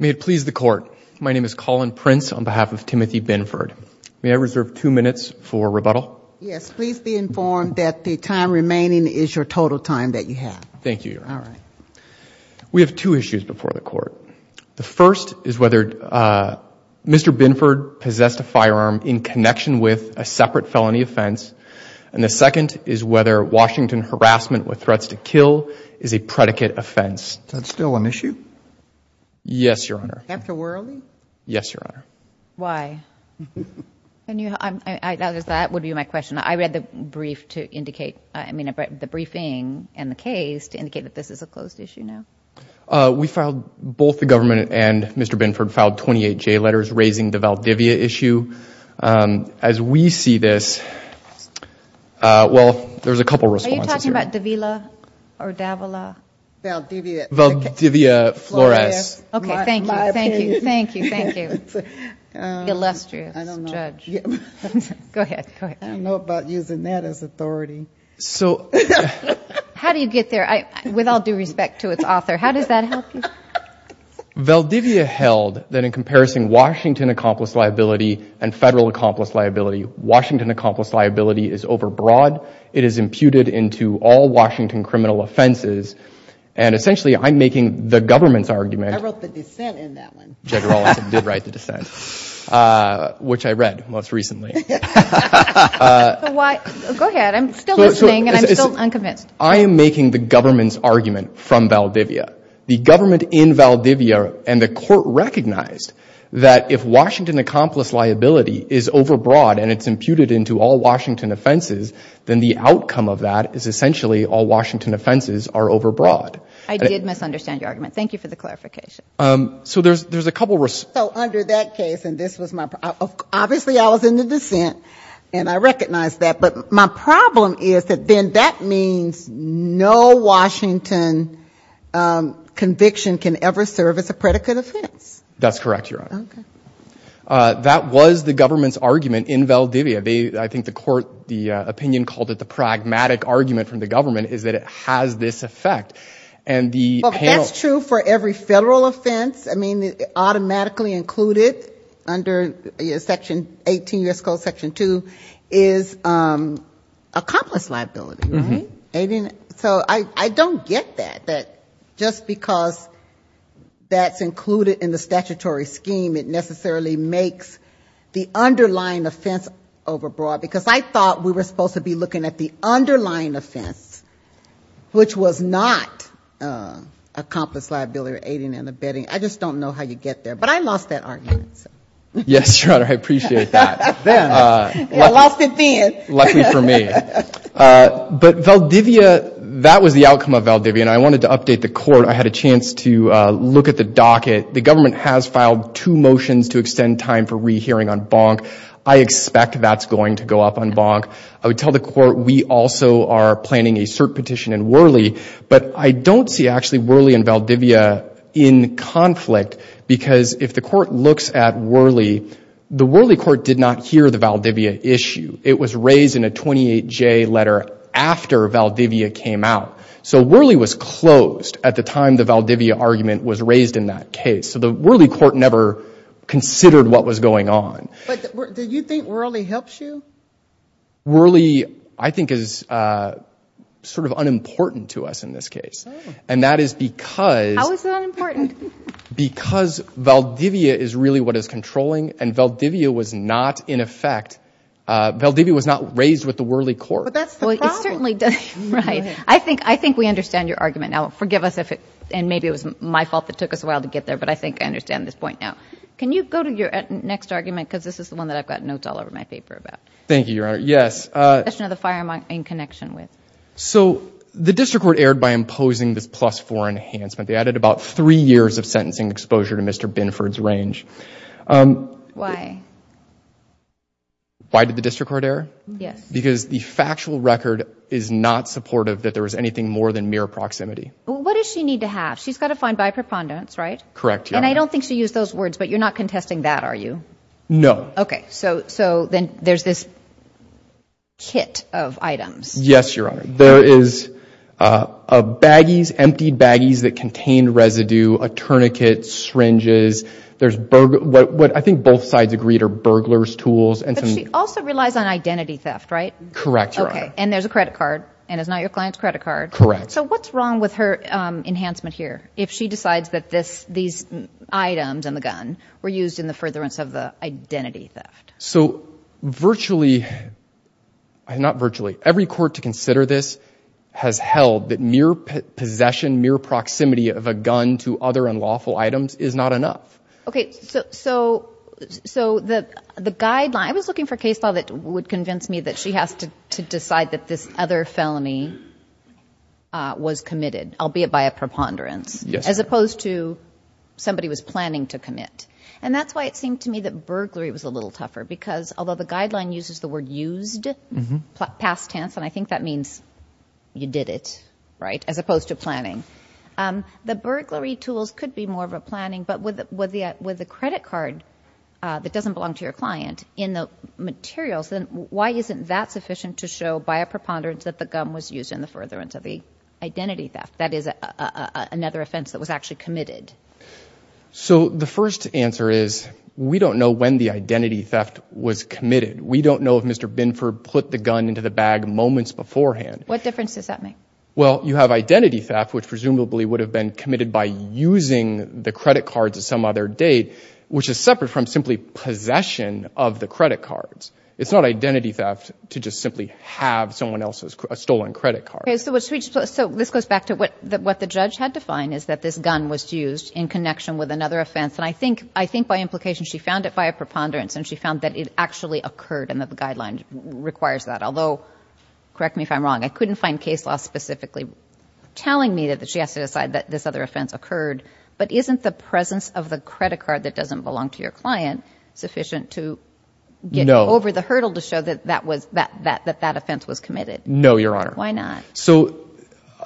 May it please the Court. My name is Colin Prince on behalf of Timothy Binford. May I reserve two minutes for rebuttal? Yes. Please be informed that the time remaining is your total time that you have. Thank you, Your Honor. All right. We have two issues before the Court. The first is whether Mr. Binford possessed a firearm in connection with a separate felony offense and the second is whether Washington harassment with threats to kill is a predicate offense. Is that still an issue? Yes, Your Honor. Dr. Worley? Yes, Your Honor. Why? That would be my question. I read the briefing and the case to indicate that this is a closed issue now. We filed both the government and Mr. Binford filed 28 J letters raising the Valdivia issue. As we see this, well, there's a couple of responses here. Are you talking about Davila or Davila? Valdivia. Valdivia Flores. Okay. Thank you. Thank you. Thank you. Thank you. Illustrious judge. I don't know. Go ahead. Go ahead. I don't know about using that as authority. How do you get there with all due respect to its author? How does that help you? Valdivia held that in comparison Washington accomplice liability and federal accomplice liability, Washington accomplice liability is over broad. It is imputed into all Washington criminal offenses and essentially I'm making the government's argument. I wrote the dissent in that one. Judge Worley did write the dissent, which I read most recently. Go ahead. I'm still listening and I'm still unconvinced. I am making the government's argument from Valdivia. The government in Valdivia and the court recognized that if Washington accomplice liability is over broad and it's imputed into all Washington offenses, then the outcome of that is essentially all Washington offenses are over broad. I did misunderstand your argument. Thank you for the clarification. So there's a couple of... So under that case and this was my... Obviously I was in the dissent and I recognized that, but my problem is that then that means no Washington conviction can ever serve as a predicate offense. That's correct, Your Honor. Okay. That was the government's argument in Valdivia. I think the court, the opinion called it the pragmatic argument from the government is that it has this effect and the panel... Well, that's true for every federal offense. I mean, automatically included under Section 18, U.S. Code Section 2 is accomplice liability, right? So I don't get that, that just because that's included in the statutory scheme, it necessarily makes the underlying offense over broad. Because I thought we were supposed to be looking at the underlying offense, which was not accomplice liability or aiding and abetting. I just don't know how you get there. But I lost that argument. Yes, Your Honor, I appreciate that. I lost it then. Luckily for me. But Valdivia, that was the outcome of Valdivia, and I wanted to update the court. I had a chance to look at the docket. The government has filed two motions to extend time for rehearing on Bonk. I expect that's going to go up on Bonk. I would tell the court we also are planning a cert petition in Worley. But I don't see actually Worley and Valdivia in conflict because if the court looks at Worley, the Worley court did not hear the Valdivia issue. It was raised in a 28-J letter after Valdivia came out. So Worley was closed at the time the Valdivia argument was raised in that case. So the Worley court never considered what was going on. But do you think Worley helps you? Worley, I think, is sort of unimportant to us in this case. And that is because. How is it unimportant? Because Valdivia is really what is controlling, and Valdivia was not in effect. Valdivia was not raised with the Worley court. But that's the problem. Well, it certainly doesn't. Right. I think we understand your argument now. Forgive us if it, and maybe it was my fault that took us a while to get there, but I think I understand this point now. Can you go to your next argument, because this is the one that I've got notes all over my paper about. Thank you, Your Honor. Yes. The question of the firearm I'm in connection with. So the district court erred by imposing this plus-4 enhancement. They added about three years of sentencing exposure to Mr. Binford's range. Why? Why did the district court err? Yes. Because the factual record is not supportive that there was anything more than mere proximity. Well, what does she need to have? She's got to find by preponderance, right? Correct, Your Honor. And I don't think she used those words, but you're not contesting that, are you? No. Okay. So then there's this kit of items. Yes, Your Honor. There is a baggies, emptied baggies that contain residue, a tourniquet, syringes. There's what I think both sides agreed are burglar's tools. But she also relies on identity theft, right? Correct, Your Honor. Okay. And there's a credit card, and it's not your client's credit card. Correct. So what's wrong with her enhancement here if she decides that these items in the gun were used in the furtherance of the identity theft? So virtually, not virtually, every court to consider this has held that mere possession, mere proximity of a gun to other unlawful items is not enough. Okay. So the guideline, I was looking for a case law that would convince me that she has to decide that this other felony was committed, albeit by a preponderance. Yes. As opposed to somebody was planning to commit. And that's why it seemed to me that burglary was a little tougher, because although the guideline uses the word used past tense, and I think that means you did it, right, as opposed to planning, the burglary tools could be more of a planning, but with the credit card that doesn't belong to your client in the materials, then why isn't that sufficient to show by a preponderance that the gun was used in the furtherance of the identity theft? That is another offense that was actually committed. So the first answer is we don't know when the identity theft was committed. We don't know if Mr. Binford put the gun into the bag moments beforehand. What difference does that make? Well, you have identity theft, which presumably would have been committed by using the credit cards at some other date, which is separate from simply possession of the credit cards. It's not identity theft to just simply have someone else's stolen credit card. Okay, so this goes back to what the judge had defined is that this gun was used in connection with another offense, and I think by implication she found it by a preponderance, and she found that it actually occurred and that the guideline requires that. Although, correct me if I'm wrong, I couldn't find case law specifically telling me that she has to decide that this other offense occurred, but isn't the presence of the credit card that doesn't belong to your client sufficient to get over the hurdle to show that that offense was committed? No, Your Honor. Why not? So,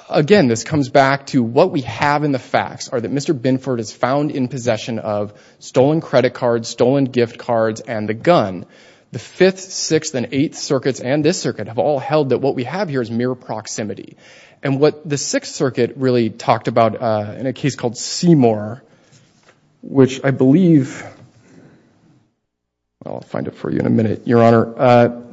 again, this comes back to what we have in the facts are that Mr. Binford is found in possession of stolen credit cards, stolen gift cards, and the gun. The Fifth, Sixth, and Eighth Circuits and this circuit have all held that what we have here is mere proximity, and what the Sixth Circuit really talked about in a case called Seymour, which I believe – I'll find it for you in a minute, Your Honor.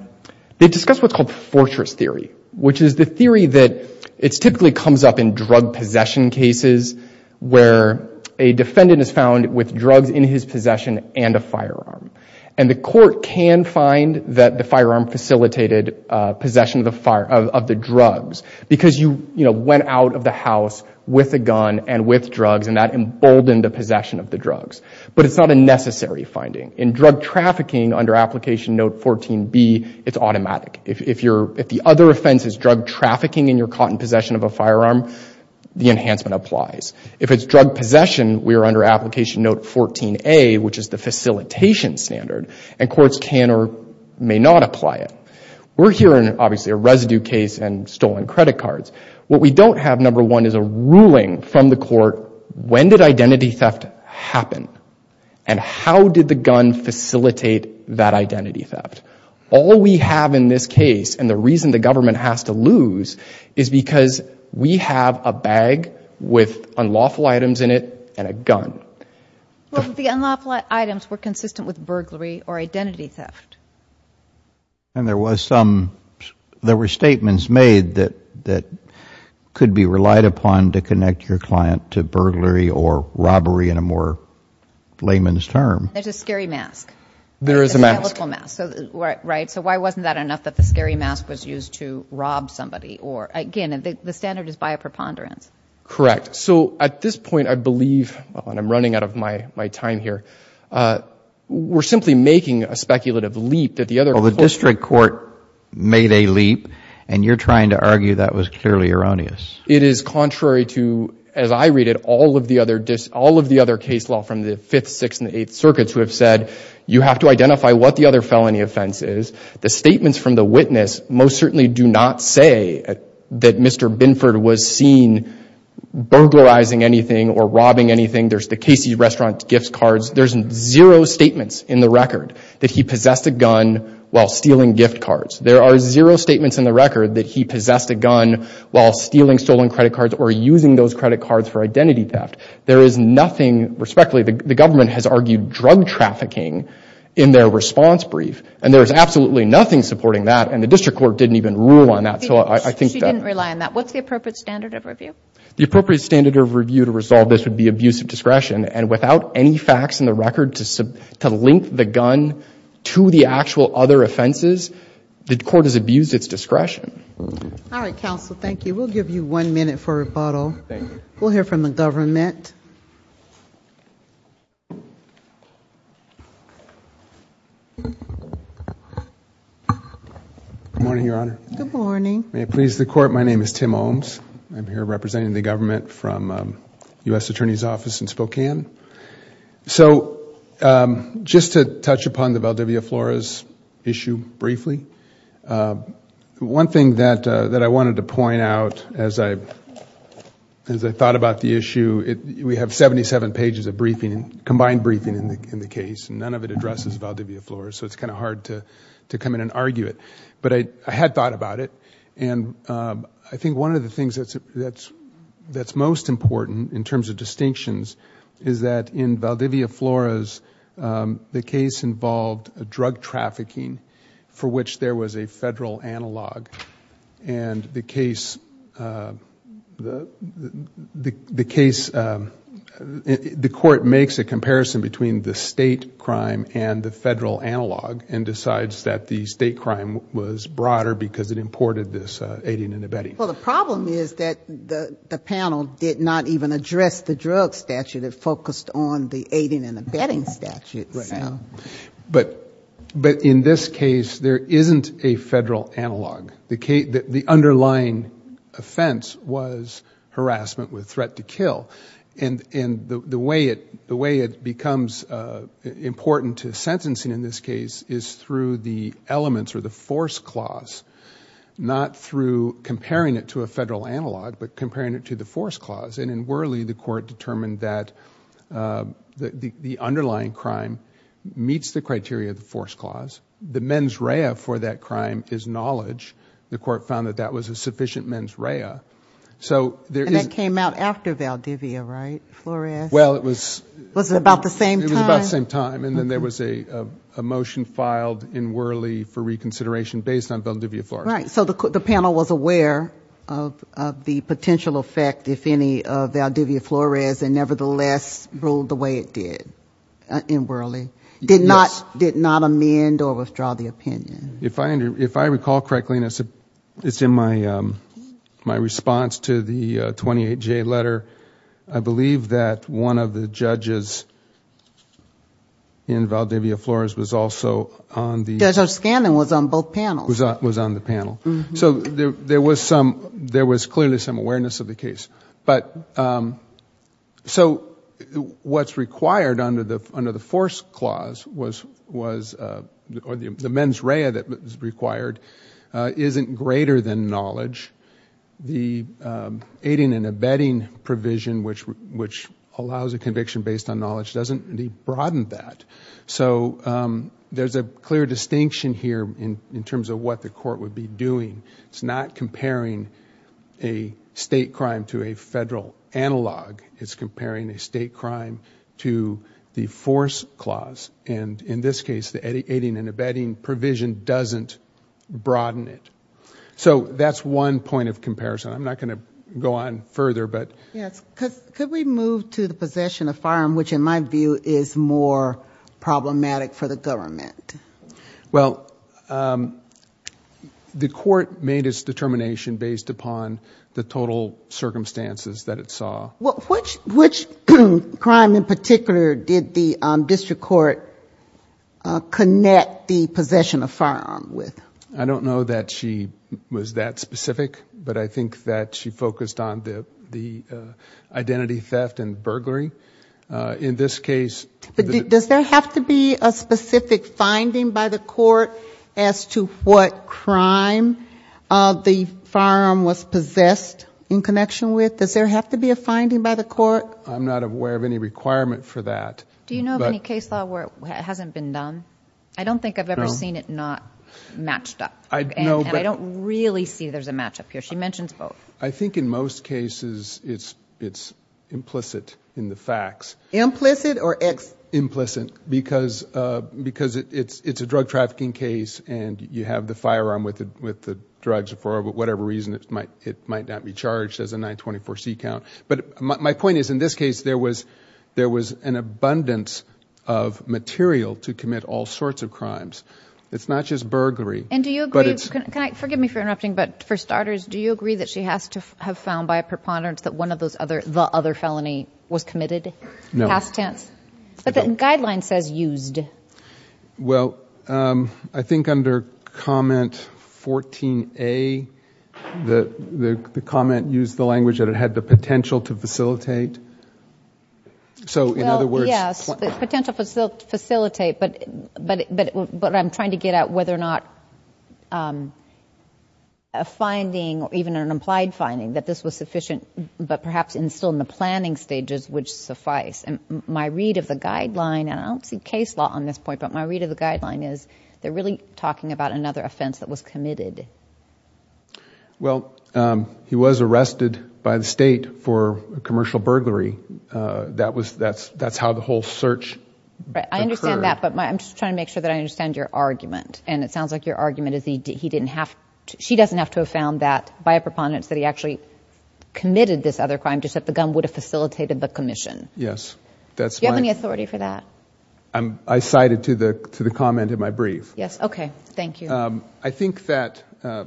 They discussed what's called Fortress Theory, which is the theory that it typically comes up in drug possession cases where a defendant is found with drugs in his possession and a firearm, and the court can find that the firearm facilitated possession of the drugs because you, you know, went out of the house with a gun and with drugs, and that emboldened the possession of the drugs, but it's not a necessary finding. In drug trafficking under Application Note 14B, it's automatic. If you're – if the other offense is drug trafficking and you're caught in possession of a firearm, the enhancement applies. If it's drug possession, we are under Application Note 14A, which is the facilitation standard, and courts can or may not apply it. We're here in, obviously, a residue case and stolen credit cards. What we don't have, number one, is a ruling from the court. When did identity theft happen, and how did the gun facilitate that identity theft? All we have in this case, and the reason the government has to lose, is because we have a bag with unlawful items in it and a gun. Well, the unlawful items were consistent with burglary or identity theft. And there was some – there were statements made that could be relied upon to connect your client to burglary or robbery in a more layman's term. There's a scary mask. There is a mask. A psychological mask, right? So why wasn't that enough that the scary mask was used to rob somebody? Or, again, the standard is by a preponderance. Correct. So at this point, I believe – and I'm running out of my time here – we're simply making a speculative leap that the other – Well, the district court made a leap, and you're trying to argue that was clearly erroneous. It is contrary to, as I read it, all of the other – all of the other case law from the Fifth, Sixth, and the Eighth Circuits who have said you have to identify what the other felony offense is. The statements from the witness most certainly do not say that Mr. Binford was seen burglarizing anything or robbing anything. There's the Casey's Restaurant gift cards. There's zero statements in the record that he possessed a gun while stealing gift cards. There are zero statements in the record that he possessed a gun while stealing stolen credit cards or using those credit cards for identity theft. There is nothing – respectfully, the government has argued drug trafficking in their response brief, and there is absolutely nothing supporting that, and the district court didn't even rule on that. So I think that – She didn't rely on that. What's the appropriate standard of review? The appropriate standard of review to resolve this would be abusive discretion, and without any facts in the record to link the gun to the actual other offenses, the court has abused its discretion. All right, counsel. Thank you. We'll give you one minute for rebuttal. Thank you. We'll hear from the government. Good morning, Your Honor. Good morning. May it please the Court, my name is Tim Ohms. I'm here representing the government from U.S. Attorney's Office in Spokane. So just to touch upon the Valdivia Flores issue briefly, one thing that I wanted to point out as I thought about the issue, we have 77 pages of briefing, combined briefing in the case, and none of it addresses Valdivia Flores, so it's kind of hard to come in and argue it. But I had thought about it, and I think one of the things that's most important in terms of distinctions is that in Valdivia Flores, the case involved drug trafficking for which there was a federal analog, and the case, the court makes a comparison between the state crime and the federal analog and decides that the state crime was broader because it imported this aiding and abetting. Well, the problem is that the panel did not even address the drug statute. It focused on the aiding and abetting statute. But in this case, there isn't a federal analog. The underlying offense was harassment with threat to kill, and the way it becomes important to sentencing in this case is through the elements or the force clause, not through comparing it to a federal analog but comparing it to the force clause. And in Worley, the court determined that the underlying crime meets the criteria of the force clause. The mens rea for that crime is knowledge. The court found that that was a sufficient mens rea. And that came out after Valdivia, right, Flores? Well, it was... Was it about the same time? It was about the same time, and then there was a motion filed in Worley for reconsideration based on Valdivia Flores. Right. So the panel was aware of the potential effect, if any, of Valdivia Flores and nevertheless ruled the way it did in Worley, did not amend or withdraw the opinion. If I recall correctly, and it's in my response to the 28J letter, I believe that one of the judges in Valdivia Flores was also on the... Judge O'Scanlan was on both panels. Was on the panel. But... So what's required under the force clause was... The mens rea that was required isn't greater than knowledge. The aiding and abetting provision, which allows a conviction based on knowledge, doesn't really broaden that. So there's a clear distinction here in terms of what the court would be doing. It's not comparing a state crime to a federal analog. It's comparing a state crime to the force clause. And in this case, the aiding and abetting provision doesn't broaden it. So that's one point of comparison. I'm not going to go on further, but... Yes, could we move to the possession of firearm, which in my view is more problematic for the government? Well, the court made its determination based upon the total circumstances that it saw. Which crime in particular did the district court connect the possession of firearm with? I don't know that she was that specific, but I think that she focused on the identity theft and burglary. In this case... Does there have to be a specific finding by the court as to what crime the firearm was possessed in connection with? Does there have to be a finding by the court? I'm not aware of any requirement for that. Do you know of any case law where it hasn't been done? I don't think I've ever seen it not matched up. And I don't really see there's a match up here. She mentions both. I think in most cases it's implicit in the facts. Implicit or explicit? Implicit because it's a drug trafficking case and you have the firearm with the drugs for whatever reason. It might not be charged as a 924C count. But my point is in this case there was an abundance of material to commit all sorts of crimes. It's not just burglary. And do you agree? Forgive me for interrupting, but for starters, do you agree that she has to have found by a preponderance that the other felony was committed? No. Past tense. But the guideline says used. Well, I think under comment 14A, the comment used the language that it had the potential to facilitate. So in other words. Yes, potential to facilitate, but I'm trying to get at whether or not a finding, or even an implied finding, that this was sufficient, but perhaps still in the planning stages would suffice. And my read of the guideline, and I don't see case law on this point, but my read of the guideline is they're really talking about another offense that was committed. Well, he was arrested by the state for commercial burglary. That's how the whole search occurred. I understand that, but I'm just trying to make sure that I understand your argument. And it sounds like your argument is he didn't have to, she doesn't have to have found that by a preponderance that he actually committed this other crime, just that the gun would have facilitated the commission. Yes. Do you have any authority for that? I cited to the comment in my brief. Yes, okay. Thank you. I think that, I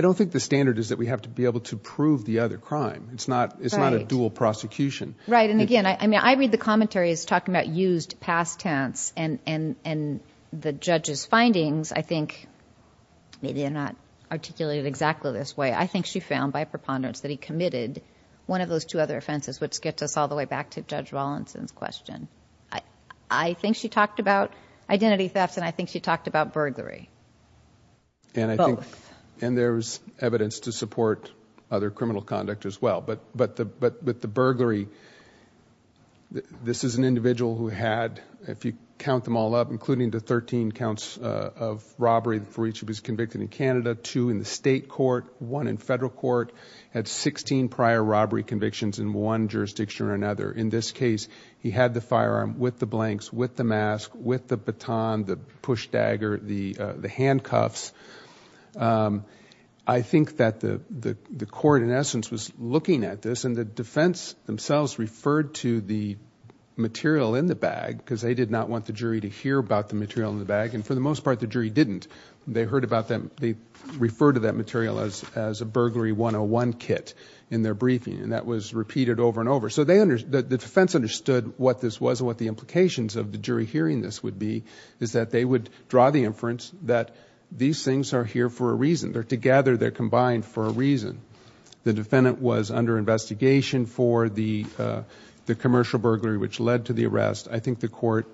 don't think the standard is that we have to be able to prove the other crime. It's not a dual prosecution. Right, and again, I mean, I read the commentary as talking about used past tense, and the judge's findings, I think, maybe they're not articulated exactly this way, I think she found by preponderance that he committed one of those two other offenses, which gets us all the way back to Judge Rawlinson's question. I think she talked about identity theft, and I think she talked about burglary. Both. And there's evidence to support other criminal conduct as well, but with the burglary, this is an individual who had, if you count them all up, including the 13 counts of robbery for each who was convicted in Canada, two in the state court, one in federal court, had 16 prior robbery convictions in one jurisdiction or another. In this case, he had the firearm with the blanks, with the mask, with the baton, the push dagger, the handcuffs. I think that the court, in essence, was looking at this, and the defense themselves referred to the material in the bag because they did not want the jury to hear about the material in the bag, and for the most part, the jury didn't. They referred to that material as a burglary 101 kit in their briefing, and that was repeated over and over. So the defense understood what this was and what the implications of the jury hearing this would be, is that they would draw the inference that these things are here for a reason. They're together, they're combined for a reason. The defendant was under investigation for the commercial burglary, which led to the arrest. I think the court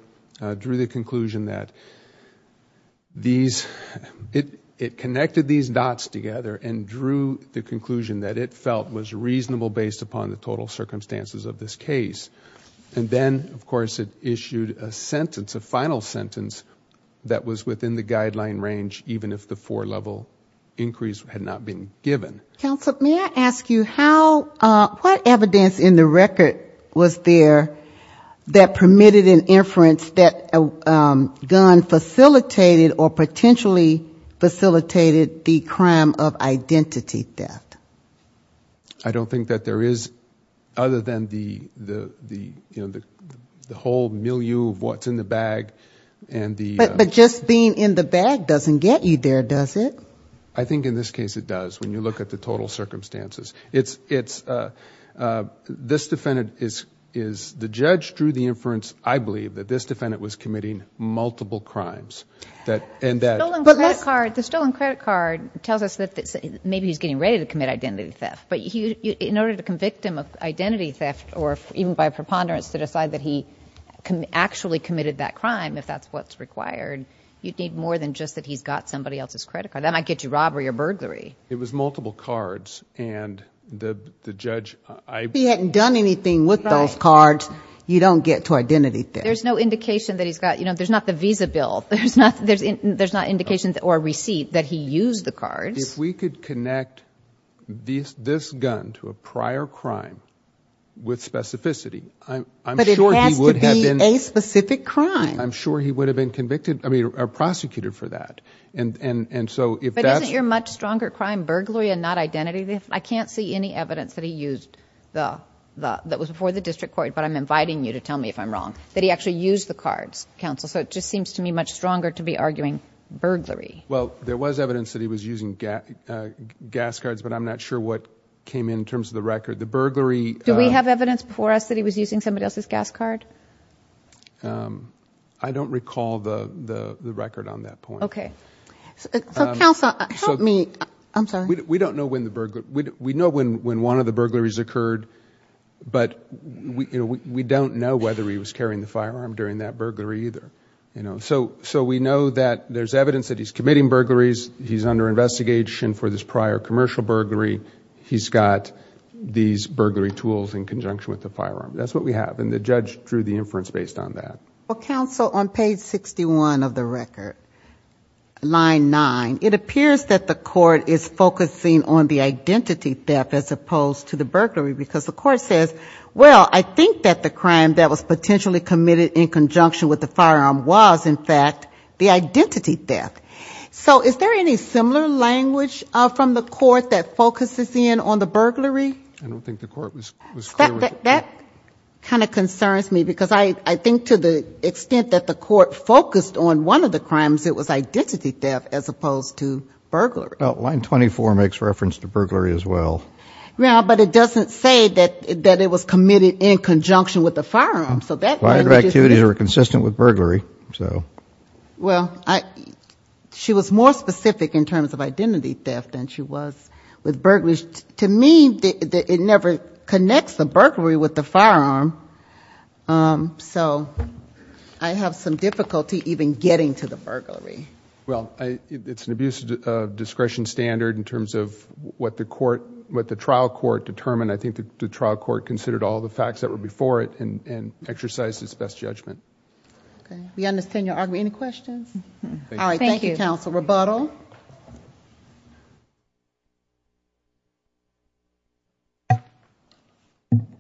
drew the conclusion that these... it connected these dots together and drew the conclusion that it felt was reasonable based upon the total circumstances of this case. And then, of course, it issued a sentence, a final sentence, that was within the guideline range, even if the four-level increase had not been given. Counsel, may I ask you, what evidence in the record was there that permitted an inference that a gun facilitated or potentially facilitated the crime of identity theft? I don't think that there is, other than the whole milieu of what's in the bag. But just being in the bag doesn't get you there, does it? I think in this case it does. When you look at the total circumstances. This defendant is... the judge drew the inference, I believe, that this defendant was committing multiple crimes. The stolen credit card tells us that maybe he's getting ready to commit identity theft. But in order to convict him of identity theft, or even by preponderance to decide that he actually committed that crime, if that's what's required, you'd need more than just that he's got somebody else's credit card. That might get you robbery or burglary. It was multiple cards, and the judge... If he hadn't done anything with those cards, you don't get to identity theft. There's no indication that he's got... there's not the visa bill. There's not indication or receipt that he used the cards. If we could connect this gun to a prior crime with specificity, I'm sure he would have been... But it has to be a specific crime. I'm sure he would have been convicted, I mean, or prosecuted for that. But isn't your much stronger crime burglary and not identity theft? I can't see any evidence that he used the... that was before the district court, but I'm inviting you to tell me if I'm wrong, that he actually used the cards, counsel. So it just seems to me much stronger to be arguing burglary. Well, there was evidence that he was using gas cards, but I'm not sure what came in in terms of the record. The burglary... Do we have evidence before us that he was using somebody else's gas card? I don't recall the record on that point. Okay. So, counsel, help me. I'm sorry. We don't know when the burglary... We know when one of the burglaries occurred, but we don't know whether he was carrying the firearm during that burglary either. So we know that there's evidence that he's committing burglaries. He's under investigation for this prior commercial burglary. He's got these burglary tools in conjunction with the firearm. That's what we have, and the judge drew the inference based on that. Well, counsel, on page 61 of the record, line 9, it appears that the court is focusing on the identity theft as opposed to the burglary because the court says, well, I think that the crime that was potentially committed in conjunction with the firearm was, in fact, the identity theft. So is there any similar language from the court that focuses in on the burglary? I don't think the court was clear with it. That kind of concerns me because I think to the extent that the court focused on one of the crimes, it was identity theft as opposed to burglary. Well, line 24 makes reference to burglary as well. Yeah, but it doesn't say that it was committed in conjunction with the firearm. So that language is... A lot of activities are consistent with burglary, so... Well, she was more specific in terms of identity theft than she was with burglary. To me, it never connects the burglary with the firearm. So I have some difficulty even getting to the burglary. Well, it's an abuse of discretion standard in terms of what the trial court determined. I think the trial court considered all the facts that were before it and exercised its best judgment. We understand your argument. Any questions? Thank you. All right, thank you, counsel. Any further rebuttal?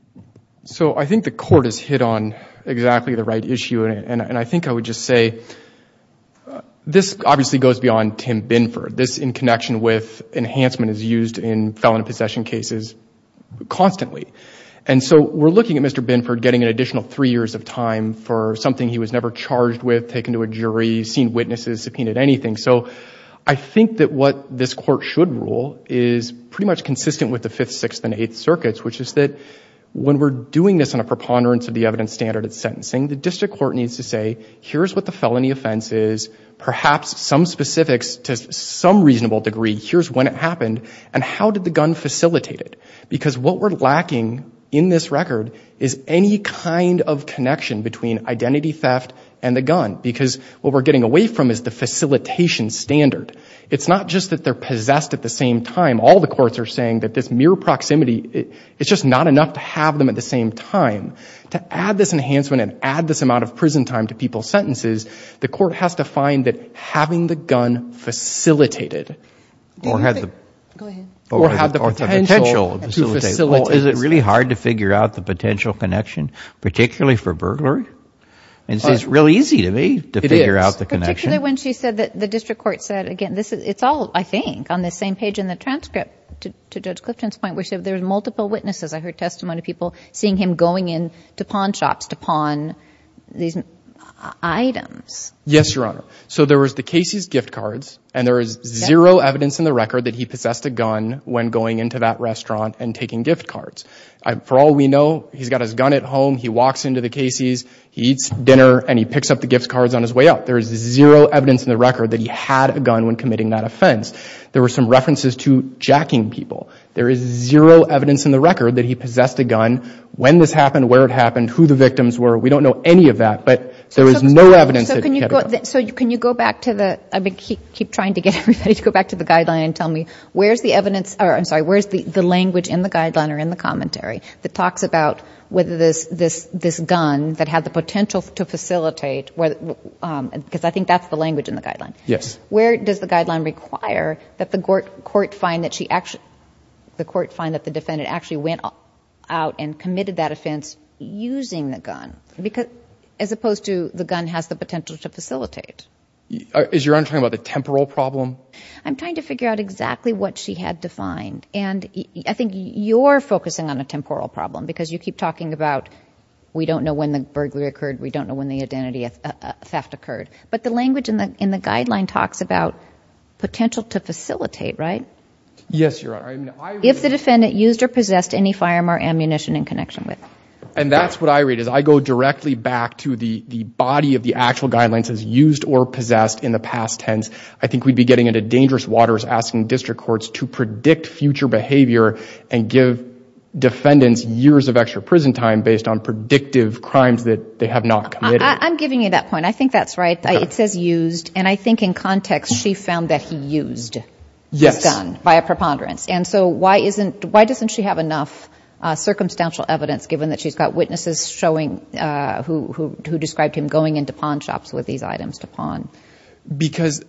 So I think the court has hit on exactly the right issue. And I think I would just say this obviously goes beyond Tim Binford. This in connection with enhancement is used in felon possession cases constantly. And so we're looking at Mr. Binford getting an additional three years of time for something he was never charged with, never taken to a jury, seen witnesses, subpoenaed, anything. So I think that what this court should rule is pretty much consistent with the Fifth, Sixth, and Eighth Circuits, which is that when we're doing this on a preponderance of the evidence standard at sentencing, the district court needs to say, here's what the felony offense is, perhaps some specifics to some reasonable degree. Here's when it happened. And how did the gun facilitate it? Because what we're lacking in this record is any kind of connection between identity theft and the gun. Because what we're getting away from is the facilitation standard. It's not just that they're possessed at the same time. All the courts are saying that this mere proximity, it's just not enough to have them at the same time. To add this enhancement and add this amount of prison time to people's sentences, the court has to find that having the gun facilitated. Go ahead. Or have the potential to facilitate. Well, is it really hard to figure out the potential connection, particularly for burglary? Because it's real easy to me to figure out the connection. It is. Particularly when she said that the district court said, again, it's all, I think, on the same page in the transcript to Judge Clifton's point, where there's multiple witnesses. I heard testimony of people seeing him going into pawn shops to pawn these items. Yes, Your Honor. So there was the Casey's gift cards, and there is zero evidence in the record that he possessed a gun when going into that restaurant and taking gift cards. For all we know, he's got his gun at home. He walks into the Casey's, he eats dinner, and he picks up the gift cards on his way out. There is zero evidence in the record that he had a gun when committing that offense. There were some references to jacking people. There is zero evidence in the record that he possessed a gun. When this happened, where it happened, who the victims were, we don't know any of that. But there is no evidence that he had a gun. So can you go back to the, I keep trying to get everybody to go back to the guideline and tell me where's the evidence, or I'm sorry, where's the language in the guideline or in the commentary that talks about whether this gun that had the potential to facilitate, because I think that's the language in the guideline. Yes. Where does the guideline require that the court find that the defendant actually went out and committed that offense using the gun as opposed to the gun has the potential to facilitate? Is Your Honor talking about the temporal problem? I'm trying to figure out exactly what she had defined. And I think you're focusing on a temporal problem because you keep talking about we don't know when the burglary occurred, we don't know when the identity theft occurred. But the language in the guideline talks about potential to facilitate, right? Yes, Your Honor. If the defendant used or possessed any firearm or ammunition in connection with. And that's what I read is I go directly back to the body of the actual guidelines as used or possessed in the past tense. I think we'd be getting into dangerous waters asking district courts to predict future behavior and give defendants years of extra prison time based on predictive crimes that they have not committed. I'm giving you that point. I think that's right. It says used. And I think in context she found that he used this gun via preponderance. And so why doesn't she have enough circumstantial evidence given that she's got witnesses showing who described him going into pawn shops with these items to pawn? Because,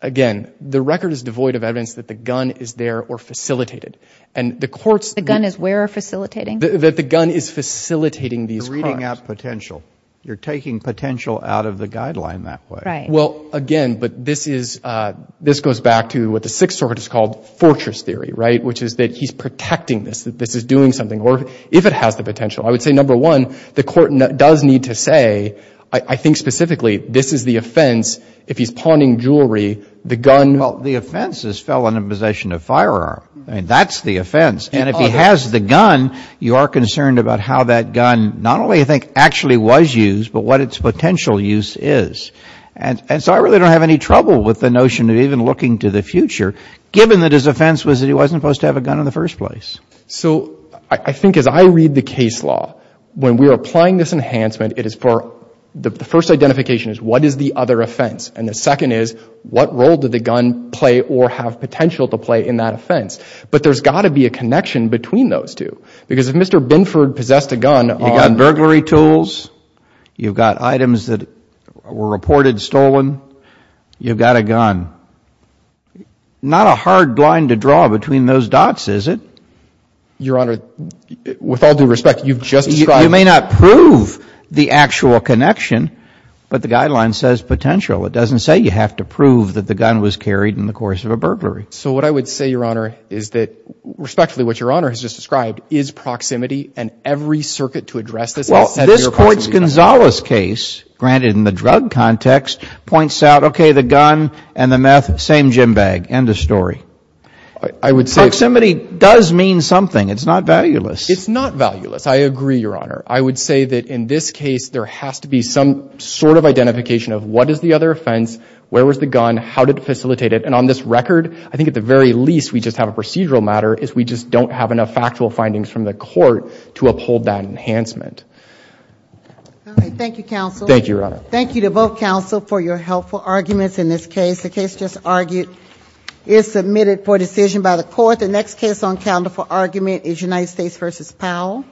again, the record is devoid of evidence that the gun is there or facilitated. The gun is where facilitating? That the gun is facilitating these crimes. You're reading out potential. You're taking potential out of the guideline that way. Right. Well, again, but this goes back to what the Sixth Circuit has called fortress theory, right, which is that he's protecting this, that this is doing something, or if it has the potential. I would say, number one, the court does need to say, I think specifically, this is the offense, if he's pawning jewelry, the gun. Well, the offense is felon in possession of a firearm. That's the offense. And if he has the gun, you are concerned about how that gun not only, I think, actually was used, but what its potential use is. And so I really don't have any trouble with the notion of even looking to the future, given that his offense was that he wasn't supposed to have a gun in the first place. So I think as I read the case law, when we are applying this enhancement, it is for the first identification is what is the other offense? And the second is what role did the gun play or have potential to play in that offense? But there's got to be a connection between those two. Because if Mr. Binford possessed a gun. You've got burglary tools. You've got items that were reported stolen. You've got a gun. Not a hard line to draw between those dots, is it? Your Honor, with all due respect, you've just described. You may not prove the actual connection, but the guideline says potential. It doesn't say you have to prove that the gun was carried in the course of a burglary. So what I would say, Your Honor, is that respectfully what Your Honor has just described is proximity and every circuit to address this. Well, this Court's Gonzales case, granted in the drug context, points out, okay, the gun and the meth, same gym bag. End of story. I would say. Proximity does mean something. It's not valueless. It's not valueless. I agree, Your Honor. I would say that in this case there has to be some sort of identification of what is the other offense? Where was the gun? How did it facilitate it? And on this record, I think at the very least we just have a procedural matter, is we just don't have enough factual findings from the Court to uphold that enhancement. All right. Thank you, counsel. Thank you, Your Honor. Thank you to both counsel for your helpful arguments in this case. The case just argued is submitted for decision by the Court. The next case on calendar for argument is United States v. Powell.